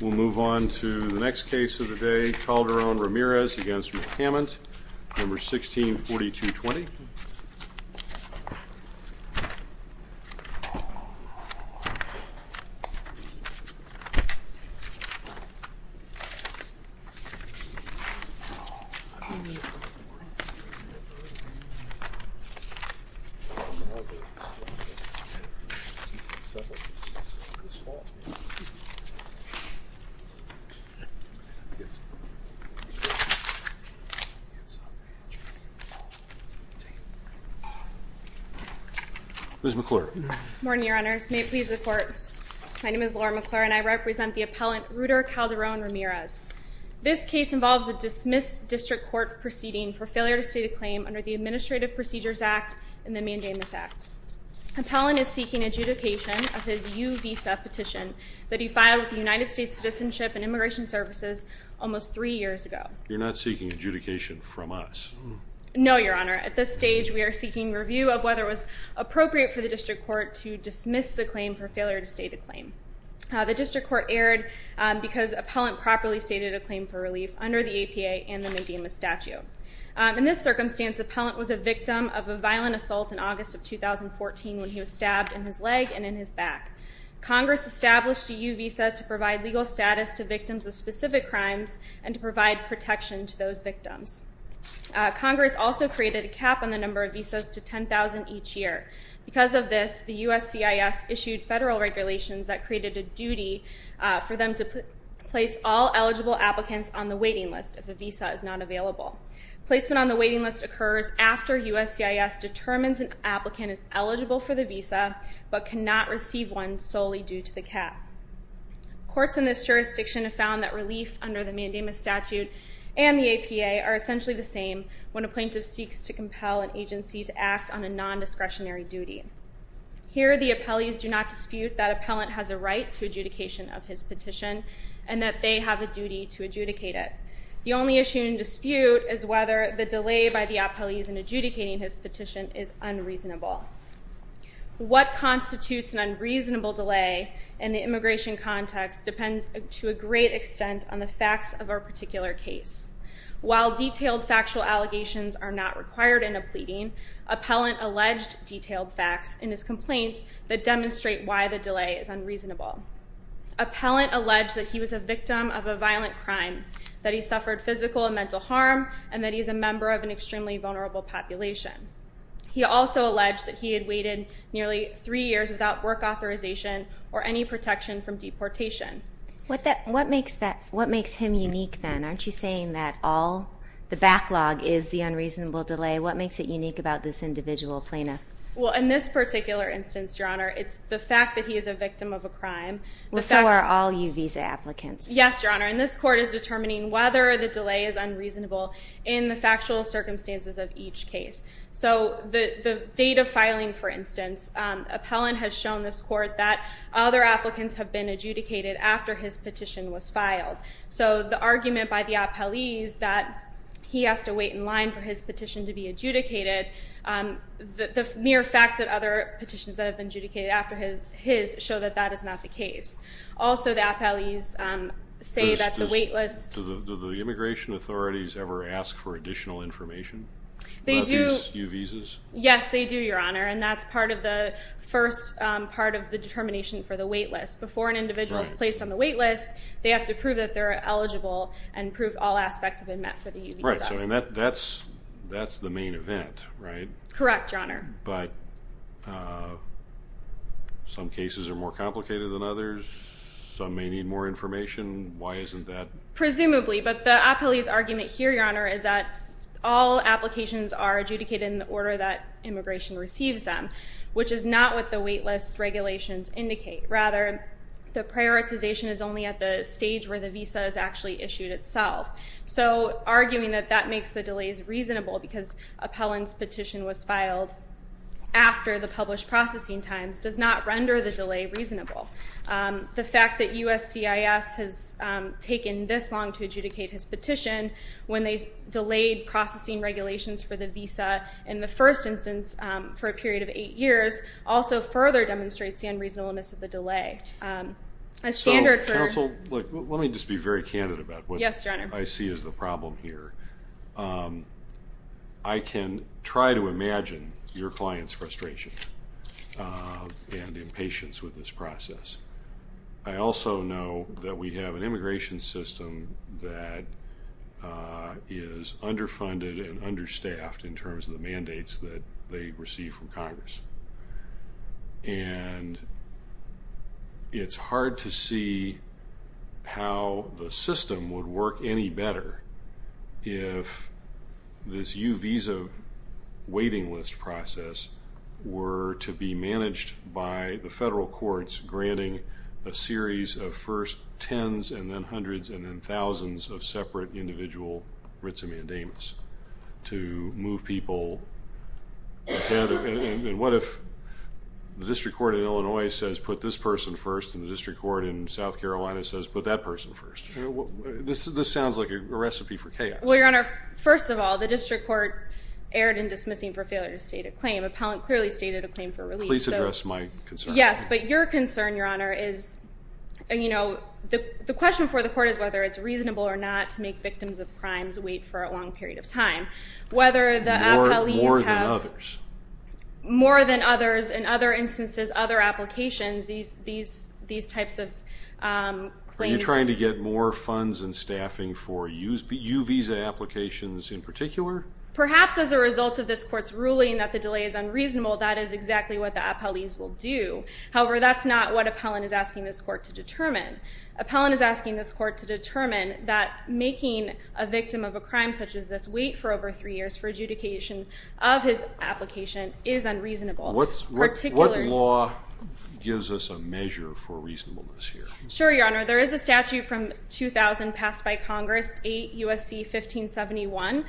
We'll move on to the next case of the day, Calderon-Ramirez v. McCament, No. 164220. Ms. McClure. Good morning, Your Honors. May it please the Court, my name is Laura McClure and I represent the appellant Ruder Calderon-Ramirez. This case involves a dismissed district court proceeding for failure to state a claim under the Administrative Procedures Act and the Mandamus Act. The appellant is seeking adjudication of his U-Visa petition that he filed with the United States Citizenship and Immigration Services almost three years ago. You're not seeking adjudication from us? No, Your Honor. At this stage, we are seeking review of whether it was appropriate for the district court to dismiss the claim for failure to state a claim. The district court erred because the appellant properly stated a claim for relief under the APA and the Mandamus Statute. In this circumstance, the appellant was a victim of a violent assault in August of 2014 when he was stabbed in his leg and in his back. Congress established a U-Visa to provide legal status to victims of specific crimes and to provide protection to those victims. Congress also created a cap on the number of visas to 10,000 each year. Because of this, the USCIS issued federal regulations that created a duty for them to place all eligible applicants on the waiting list if a visa is not available. Placement on the waiting list occurs after USCIS determines an applicant is eligible for the visa but cannot receive one solely due to the cap. Courts in this jurisdiction have found that relief under the Mandamus Statute and the APA are essentially the same when a plaintiff seeks to compel an agency to act on a non-discretionary duty. Here, the appellees do not dispute that appellant has a right to adjudication of his petition and that they have a duty to adjudicate it. The only issue in dispute is whether the delay by the appellees in adjudicating his petition is unreasonable. What constitutes an unreasonable delay in the immigration context depends to a great extent on the facts of our particular case. While detailed factual allegations are not required in a pleading, appellant alleged detailed facts in his complaint that demonstrate why the delay is unreasonable. Appellant alleged that he was a victim of a violent crime, that he suffered physical and mental harm, and that he is a member of an extremely vulnerable population. He also alleged that he had waited nearly three years without work authorization or any protection from deportation. What makes him unique then? Aren't you saying that the backlog is the unreasonable delay? What makes it unique about this individual plaintiff? Well, in this particular instance, Your Honor, it's the fact that he is a victim of a crime. Well, so are all you visa applicants. Yes, Your Honor, and this court is determining whether the delay is unreasonable in the factual circumstances of each case. So the date of filing, for instance, appellant has shown this court that other applicants have been adjudicated after his petition was filed. So the argument by the appellees that he has to wait in line for his petition to be adjudicated, the mere fact that other petitions that have been adjudicated after his show that that is not the case. Also, the appellees say that the wait list... Do the immigration authorities ever ask for additional information about these new visas? Yes, they do, Your Honor, and that's part of the first part of the determination for the wait list. Before an individual is placed on the wait list, they have to prove that they're eligible and prove all aspects have been met for the visa. Right, so that's the main event, right? Correct, Your Honor. But some cases are more complicated than others. Some may need more information. Why isn't that? Presumably, but the appellee's argument here, Your Honor, is that all applications are adjudicated in the order that immigration receives them, which is not what the wait list regulations indicate. Rather, the prioritization is only at the stage where the visa is actually issued itself. So arguing that that makes the delays reasonable because appellant's petition was filed after the published processing times does not render the delay reasonable. The fact that USCIS has taken this long to adjudicate his petition when they delayed processing regulations for the visa in the first instance for a period of eight years also further demonstrates the unreasonableness of the delay. So, counsel, let me just be very candid about what I see as the problem here. I can try to imagine your client's frustration and impatience with this process. I also know that we have an immigration system that is underfunded and understaffed in terms of the mandates that they receive from Congress. And it's hard to see how the system would work any better if this U-Visa waiting list process were to be managed by the federal courts granting a series of first tens and then hundreds and then thousands of separate individual writs of mandamus to move people together. And what if the district court in Illinois says put this person first and the district court in South Carolina says put that person first? This sounds like a recipe for chaos. Well, Your Honor, first of all, the district court erred in dismissing for failure to state a claim. Appellant clearly stated a claim for relief. Please address my concern. Yes, but your concern, Your Honor, is, you know, the question for the court is whether it's reasonable or not to make victims of crimes wait for a long period of time. More than others. More than others. In other instances, other applications, these types of claims. Are you trying to get more funds and staffing for U-Visa applications in particular? Perhaps as a result of this court's ruling that the delay is unreasonable, that is exactly what the appellees will do. However, that's not what appellant is asking this court to determine. Appellant is asking this court to determine that making a victim of a crime such as this wait for over three years for adjudication of his application is unreasonable. What law gives us a measure for reasonableness here? Sure, Your Honor. There is a statute from 2000 passed by Congress, 8 U.S.C. 1571.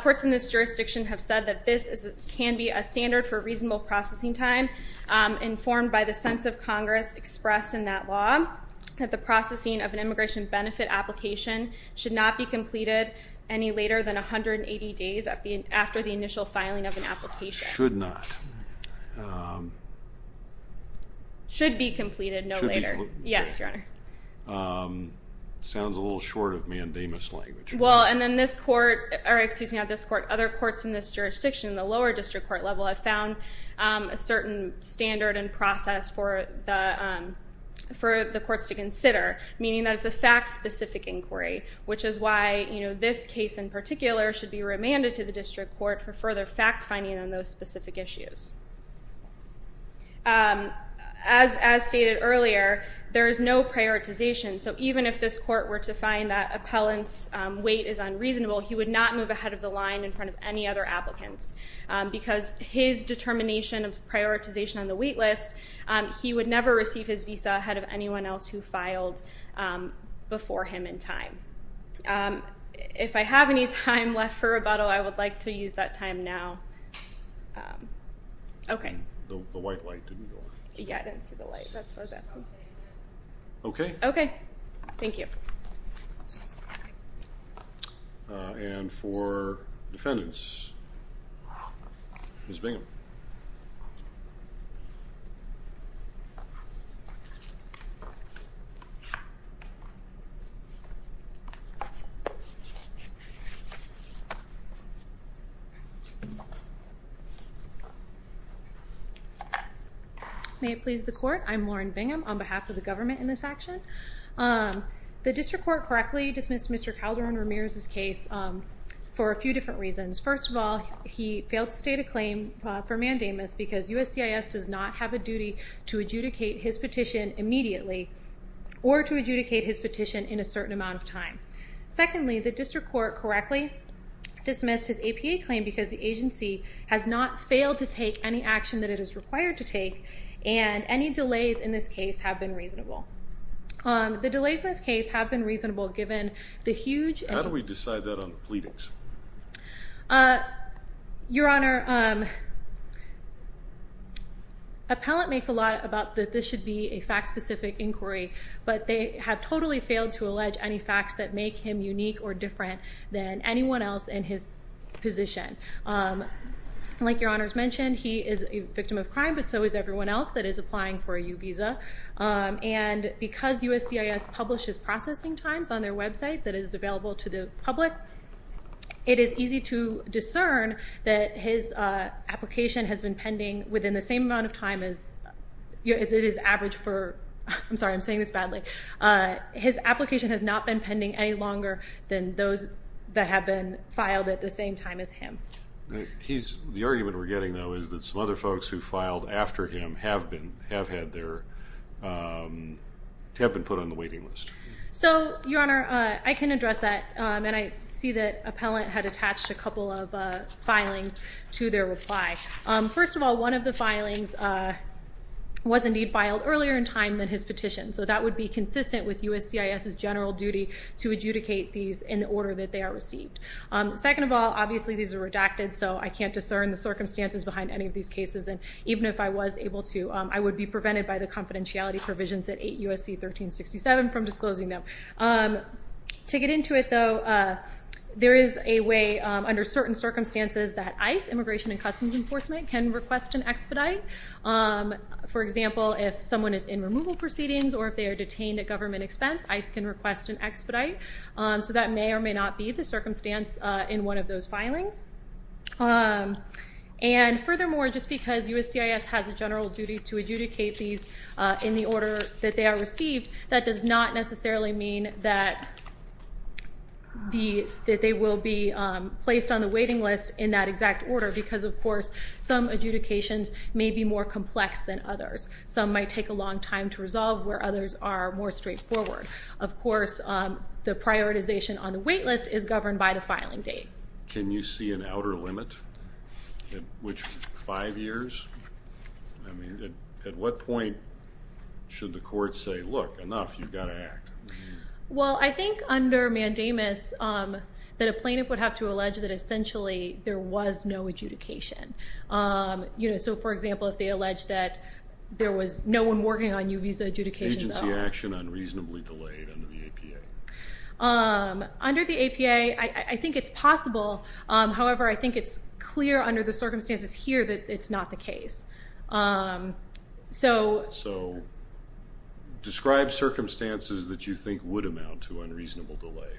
Courts in this jurisdiction have said that this can be a standard for reasonable processing time informed by the sense of Congress expressed in that law. That the processing of an immigration benefit application should not be completed any later than 180 days after the initial filing of an application. Should not. Should be completed no later. Should be completed. Yes, Your Honor. Sounds a little short of mandamus language. Well, and then this court, or excuse me, not this court, other courts in this jurisdiction, the lower district court level, have found a certain standard and process for the courts to consider. Meaning that it's a fact specific inquiry, which is why this case in particular should be remanded to the district court for further fact finding on those specific issues. As stated earlier, there is no prioritization. So even if this court were to find that appellant's wait is unreasonable, he would not move ahead of the line in front of any other applicants. Because his determination of prioritization on the wait list, he would never receive his visa ahead of anyone else who filed before him in time. If I have any time left for rebuttal, I would like to use that time now. OK. The white light didn't go on. Yeah, I didn't see the light. That's what I was asking. OK. OK. Thank you. And for defendants, Ms. Bingham. May it please the court. I'm Lauren Bingham on behalf of the government in this action. The district court correctly dismissed Mr. Calderon Ramirez's case for a few different reasons. First of all, he failed to state a claim for mandamus because USCIS does not have a duty to adjudicate his petition immediately or to adjudicate his petition in a certain amount of time. Secondly, the district court correctly dismissed his APA claim because the agency has not failed to take any action that it is required to take, and any delays in this case have been reasonable. The delays in this case have been reasonable given the huge… How do we decide that on the pleadings? Your Honor, appellant makes a lot about that this should be a fact-specific inquiry, but they have totally failed to allege any facts that make him unique or different than anyone else in his position. Like Your Honor's mentioned, he is a victim of crime, but so is everyone else that is applying for a U visa. And because USCIS publishes processing times on their website that is available to the public, it is easy to discern that his application has been pending within the same amount of time as… It is average for… I'm sorry, I'm saying this badly. His application has not been pending any longer than those that have been filed at the same time as him. The argument we're getting, though, is that some other folks who filed after him have been put on the waiting list. So, Your Honor, I can address that, and I see that appellant had attached a couple of filings to their reply. First of all, one of the filings was indeed filed earlier in time than his petition, so that would be consistent with USCIS's general duty to adjudicate these in the order that they are received. Second of all, obviously these are redacted, so I can't discern the circumstances behind any of these cases. And even if I was able to, I would be prevented by the confidentiality provisions at 8 U.S.C. 1367 from disclosing them. To get into it, though, there is a way under certain circumstances that ICE, Immigration and Customs Enforcement, can request an expedite. For example, if someone is in removal proceedings or if they are detained at government expense, ICE can request an expedite. So that may or may not be the circumstance in one of those filings. And furthermore, just because USCIS has a general duty to adjudicate these in the order that they are received, that does not necessarily mean that they will be placed on the waiting list in that exact order, because, of course, some adjudications may be more complex than others. Some might take a long time to resolve, where others are more straightforward. Of course, the prioritization on the wait list is governed by the filing date. Can you see an outer limit at which five years? I mean, at what point should the court say, look, enough, you've got to act? Well, I think under mandamus that a plaintiff would have to allege that essentially there was no adjudication. So, for example, if they allege that there was no one working on U visa adjudications. Is agency action unreasonably delayed under the APA? Under the APA, I think it's possible. However, I think it's clear under the circumstances here that it's not the case. So describe circumstances that you think would amount to unreasonable delay.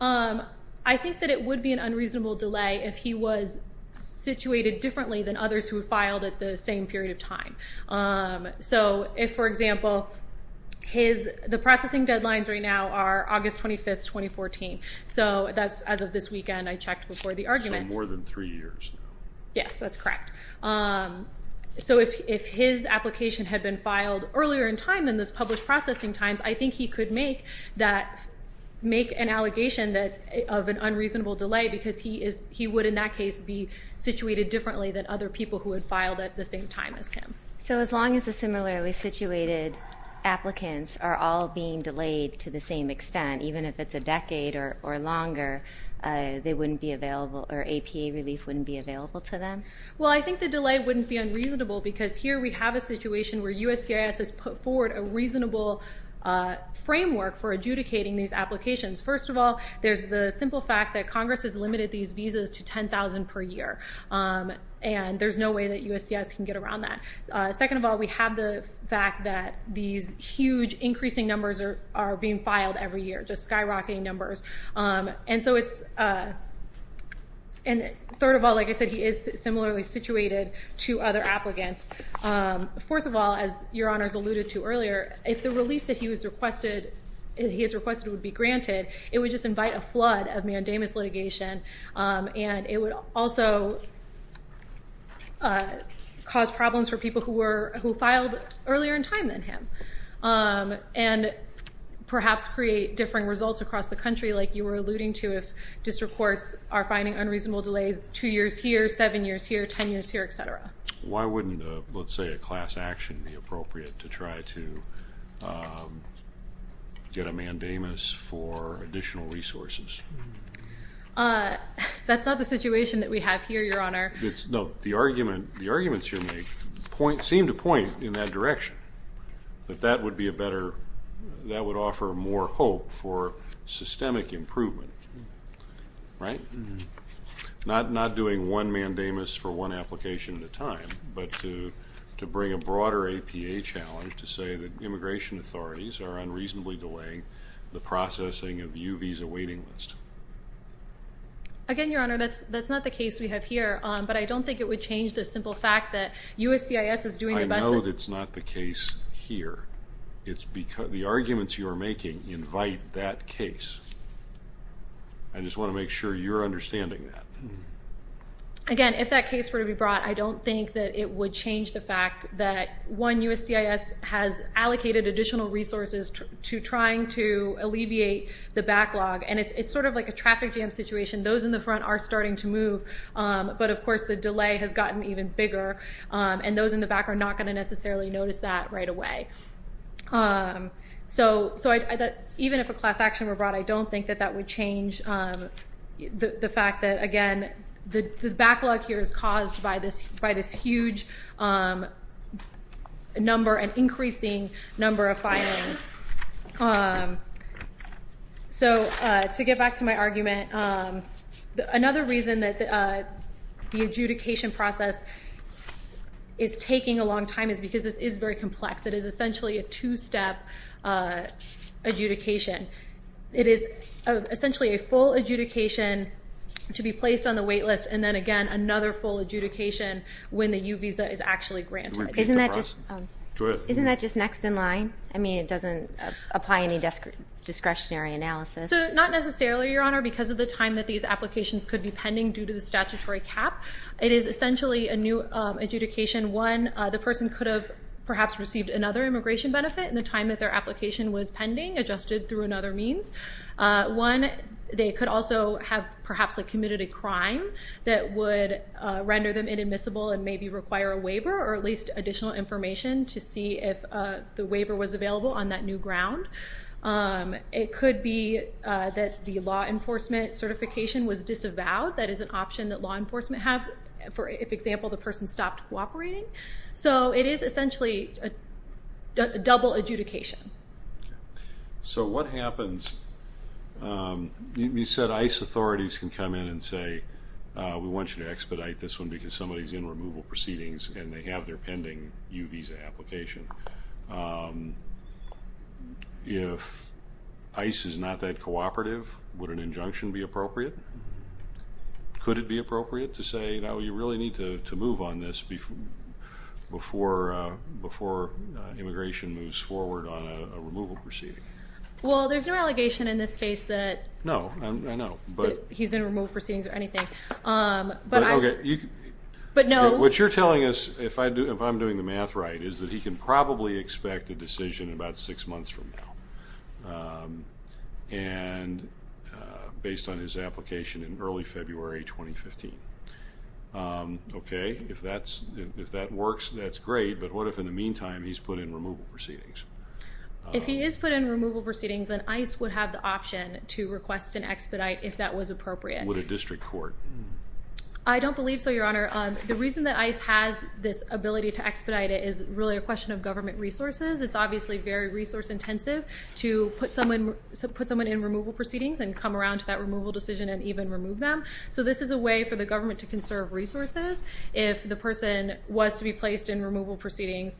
I think that it would be an unreasonable delay if he was situated differently than others who filed at the same period of time. So if, for example, the processing deadlines right now are August 25, 2014. So as of this weekend, I checked before the argument. So more than three years. Yes, that's correct. So if his application had been filed earlier in time than those published processing times, I think he could make an allegation of an unreasonable delay because he would, in that case, be situated differently than other people who had filed at the same time as him. So as long as the similarly situated applicants are all being delayed to the same extent, even if it's a decade or longer, they wouldn't be available or APA relief wouldn't be available to them? Well, I think the delay wouldn't be unreasonable because here we have a situation where USCIS has put forward a reasonable framework for adjudicating these applications. First of all, there's the simple fact that Congress has limited these visas to $10,000 per year, and there's no way that USCIS can get around that. Second of all, we have the fact that these huge increasing numbers are being filed every year, just skyrocketing numbers. And third of all, like I said, he is similarly situated to other applicants. Fourth of all, as Your Honors alluded to earlier, if the relief that he has requested would be granted, it would just invite a flood of mandamus litigation, and it would also cause problems for people who filed earlier in time than him and perhaps create differing results across the country like you were alluding to if district courts are finding unreasonable delays two years here, seven years here, ten years here, et cetera. Why wouldn't, let's say, a class action be appropriate to try to get a mandamus for additional resources? That's not the situation that we have here, Your Honor. No, the arguments you make seem to point in that direction, that that would offer more hope for systemic improvement, right? Not doing one mandamus for one application at a time, but to bring a broader APA challenge to say that immigration authorities are unreasonably delaying the processing of U visa waiting lists. Again, Your Honor, that's not the case we have here, but I don't think it would change the simple fact that USCIS is doing the best. I know that's not the case here. The arguments you are making invite that case. I just want to make sure you're understanding that. Again, if that case were to be brought, I don't think that it would change the fact that, one, USCIS has allocated additional resources to trying to alleviate the backlog, and it's sort of like a traffic jam situation. Those in the front are starting to move, but, of course, the delay has gotten even bigger, and those in the back are not going to necessarily notice that right away. So even if a class action were brought, I don't think that that would change the fact that, again, the backlog here is caused by this huge number and increasing number of filings. So to get back to my argument, another reason that the adjudication process is taking a long time is because this is very complex. It is essentially a two-step adjudication. It is essentially a full adjudication to be placed on the wait list, and then, again, another full adjudication when the U visa is actually granted. Isn't that just next in line? I mean, it doesn't apply any discretionary analysis. So not necessarily, Your Honor, because of the time that these applications could be pending due to the statutory cap. It is essentially a new adjudication. One, the person could have perhaps received another immigration benefit in the time that their application was pending, adjusted through another means. One, they could also have perhaps committed a crime that would render them inadmissible and maybe require a waiver or at least additional information to see if the waiver was available on that new ground. It could be that the law enforcement certification was disavowed. That is an option that law enforcement have if, for example, the person stopped cooperating. So it is essentially a double adjudication. So what happens? You said ICE authorities can come in and say, we want you to expedite this one because somebody is in removal proceedings and they have their pending U visa application. If ICE is not that cooperative, would an injunction be appropriate? Could it be appropriate to say, no, you really need to move on this before immigration moves forward on a removal proceeding? Well, there's no allegation in this case that he's in removal proceedings or anything. What you're telling us, if I'm doing the math right, is that he can probably expect a decision about six months from now based on his application in early February 2015. Okay, if that works, that's great, but what if in the meantime he's put in removal proceedings? If he is put in removal proceedings, then ICE would have the option to request an expedite if that was appropriate. Would a district court? I don't believe so, Your Honor. The reason that ICE has this ability to expedite it is really a question of government resources. It's obviously very resource intensive to put someone in removal proceedings and come around to that removal decision and even remove them. So this is a way for the government to conserve resources if the person was to be placed in removal proceedings.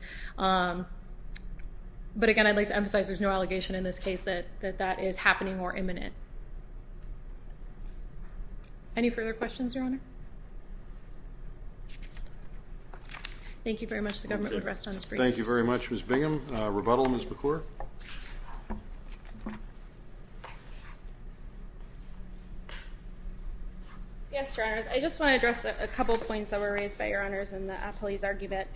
But again, I'd like to emphasize there's no allegation in this case that that is happening or imminent. Any further questions, Your Honor? Thank you very much. The government would rest on its feet. Thank you very much, Ms. Bingham. Rebuttal, Ms. McClure? Yes, Your Honors. I just want to address a couple points that were raised by Your Honors in the appellee's argument.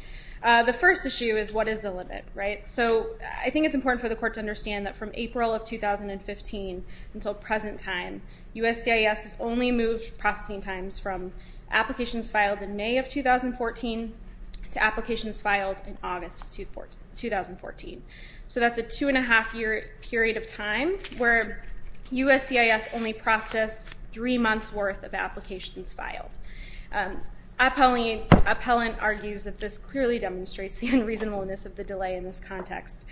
The first issue is what is the limit, right? So I think it's important for the court to understand that from April of 2015 until present time, USCIS has only moved processing times from applications filed in May of 2014 to applications filed in August of 2014. So that's a two-and-a-half-year period of time where USCIS only processed three months' worth of applications filed. Appellant argues that this clearly demonstrates the unreasonableness of the delay in this context.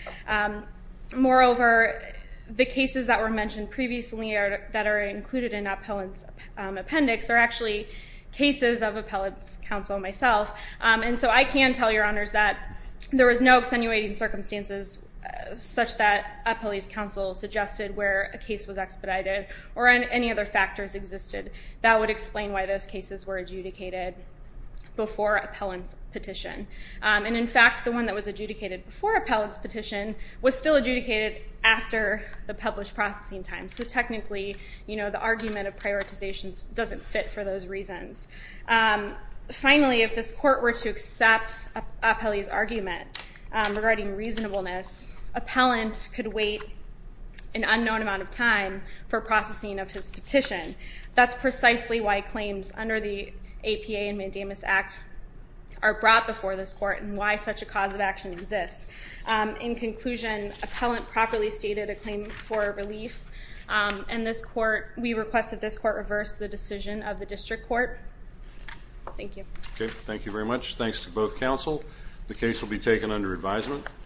Moreover, the cases that were mentioned previously that are included in appellant's appendix are actually cases of appellant's counsel and myself. And so I can tell Your Honors that there was no extenuating circumstances such that appellee's counsel suggested where a case was expedited or any other factors existed that would explain why those cases were adjudicated before appellant's petition. And in fact, the one that was adjudicated before appellant's petition was still adjudicated after the published processing time. So technically, the argument of prioritization doesn't fit for those reasons. Finally, if this court were to accept appellee's argument regarding reasonableness, appellant could wait an unknown amount of time for processing of his petition. That's precisely why claims under the APA and Mandamus Act are brought before this court and why such a cause of action exists. In conclusion, appellant properly stated a claim for relief, and we request that this court reverse the decision of the district court. Thank you. Okay, thank you very much. Thanks to both counsel. The case will be taken under advisement.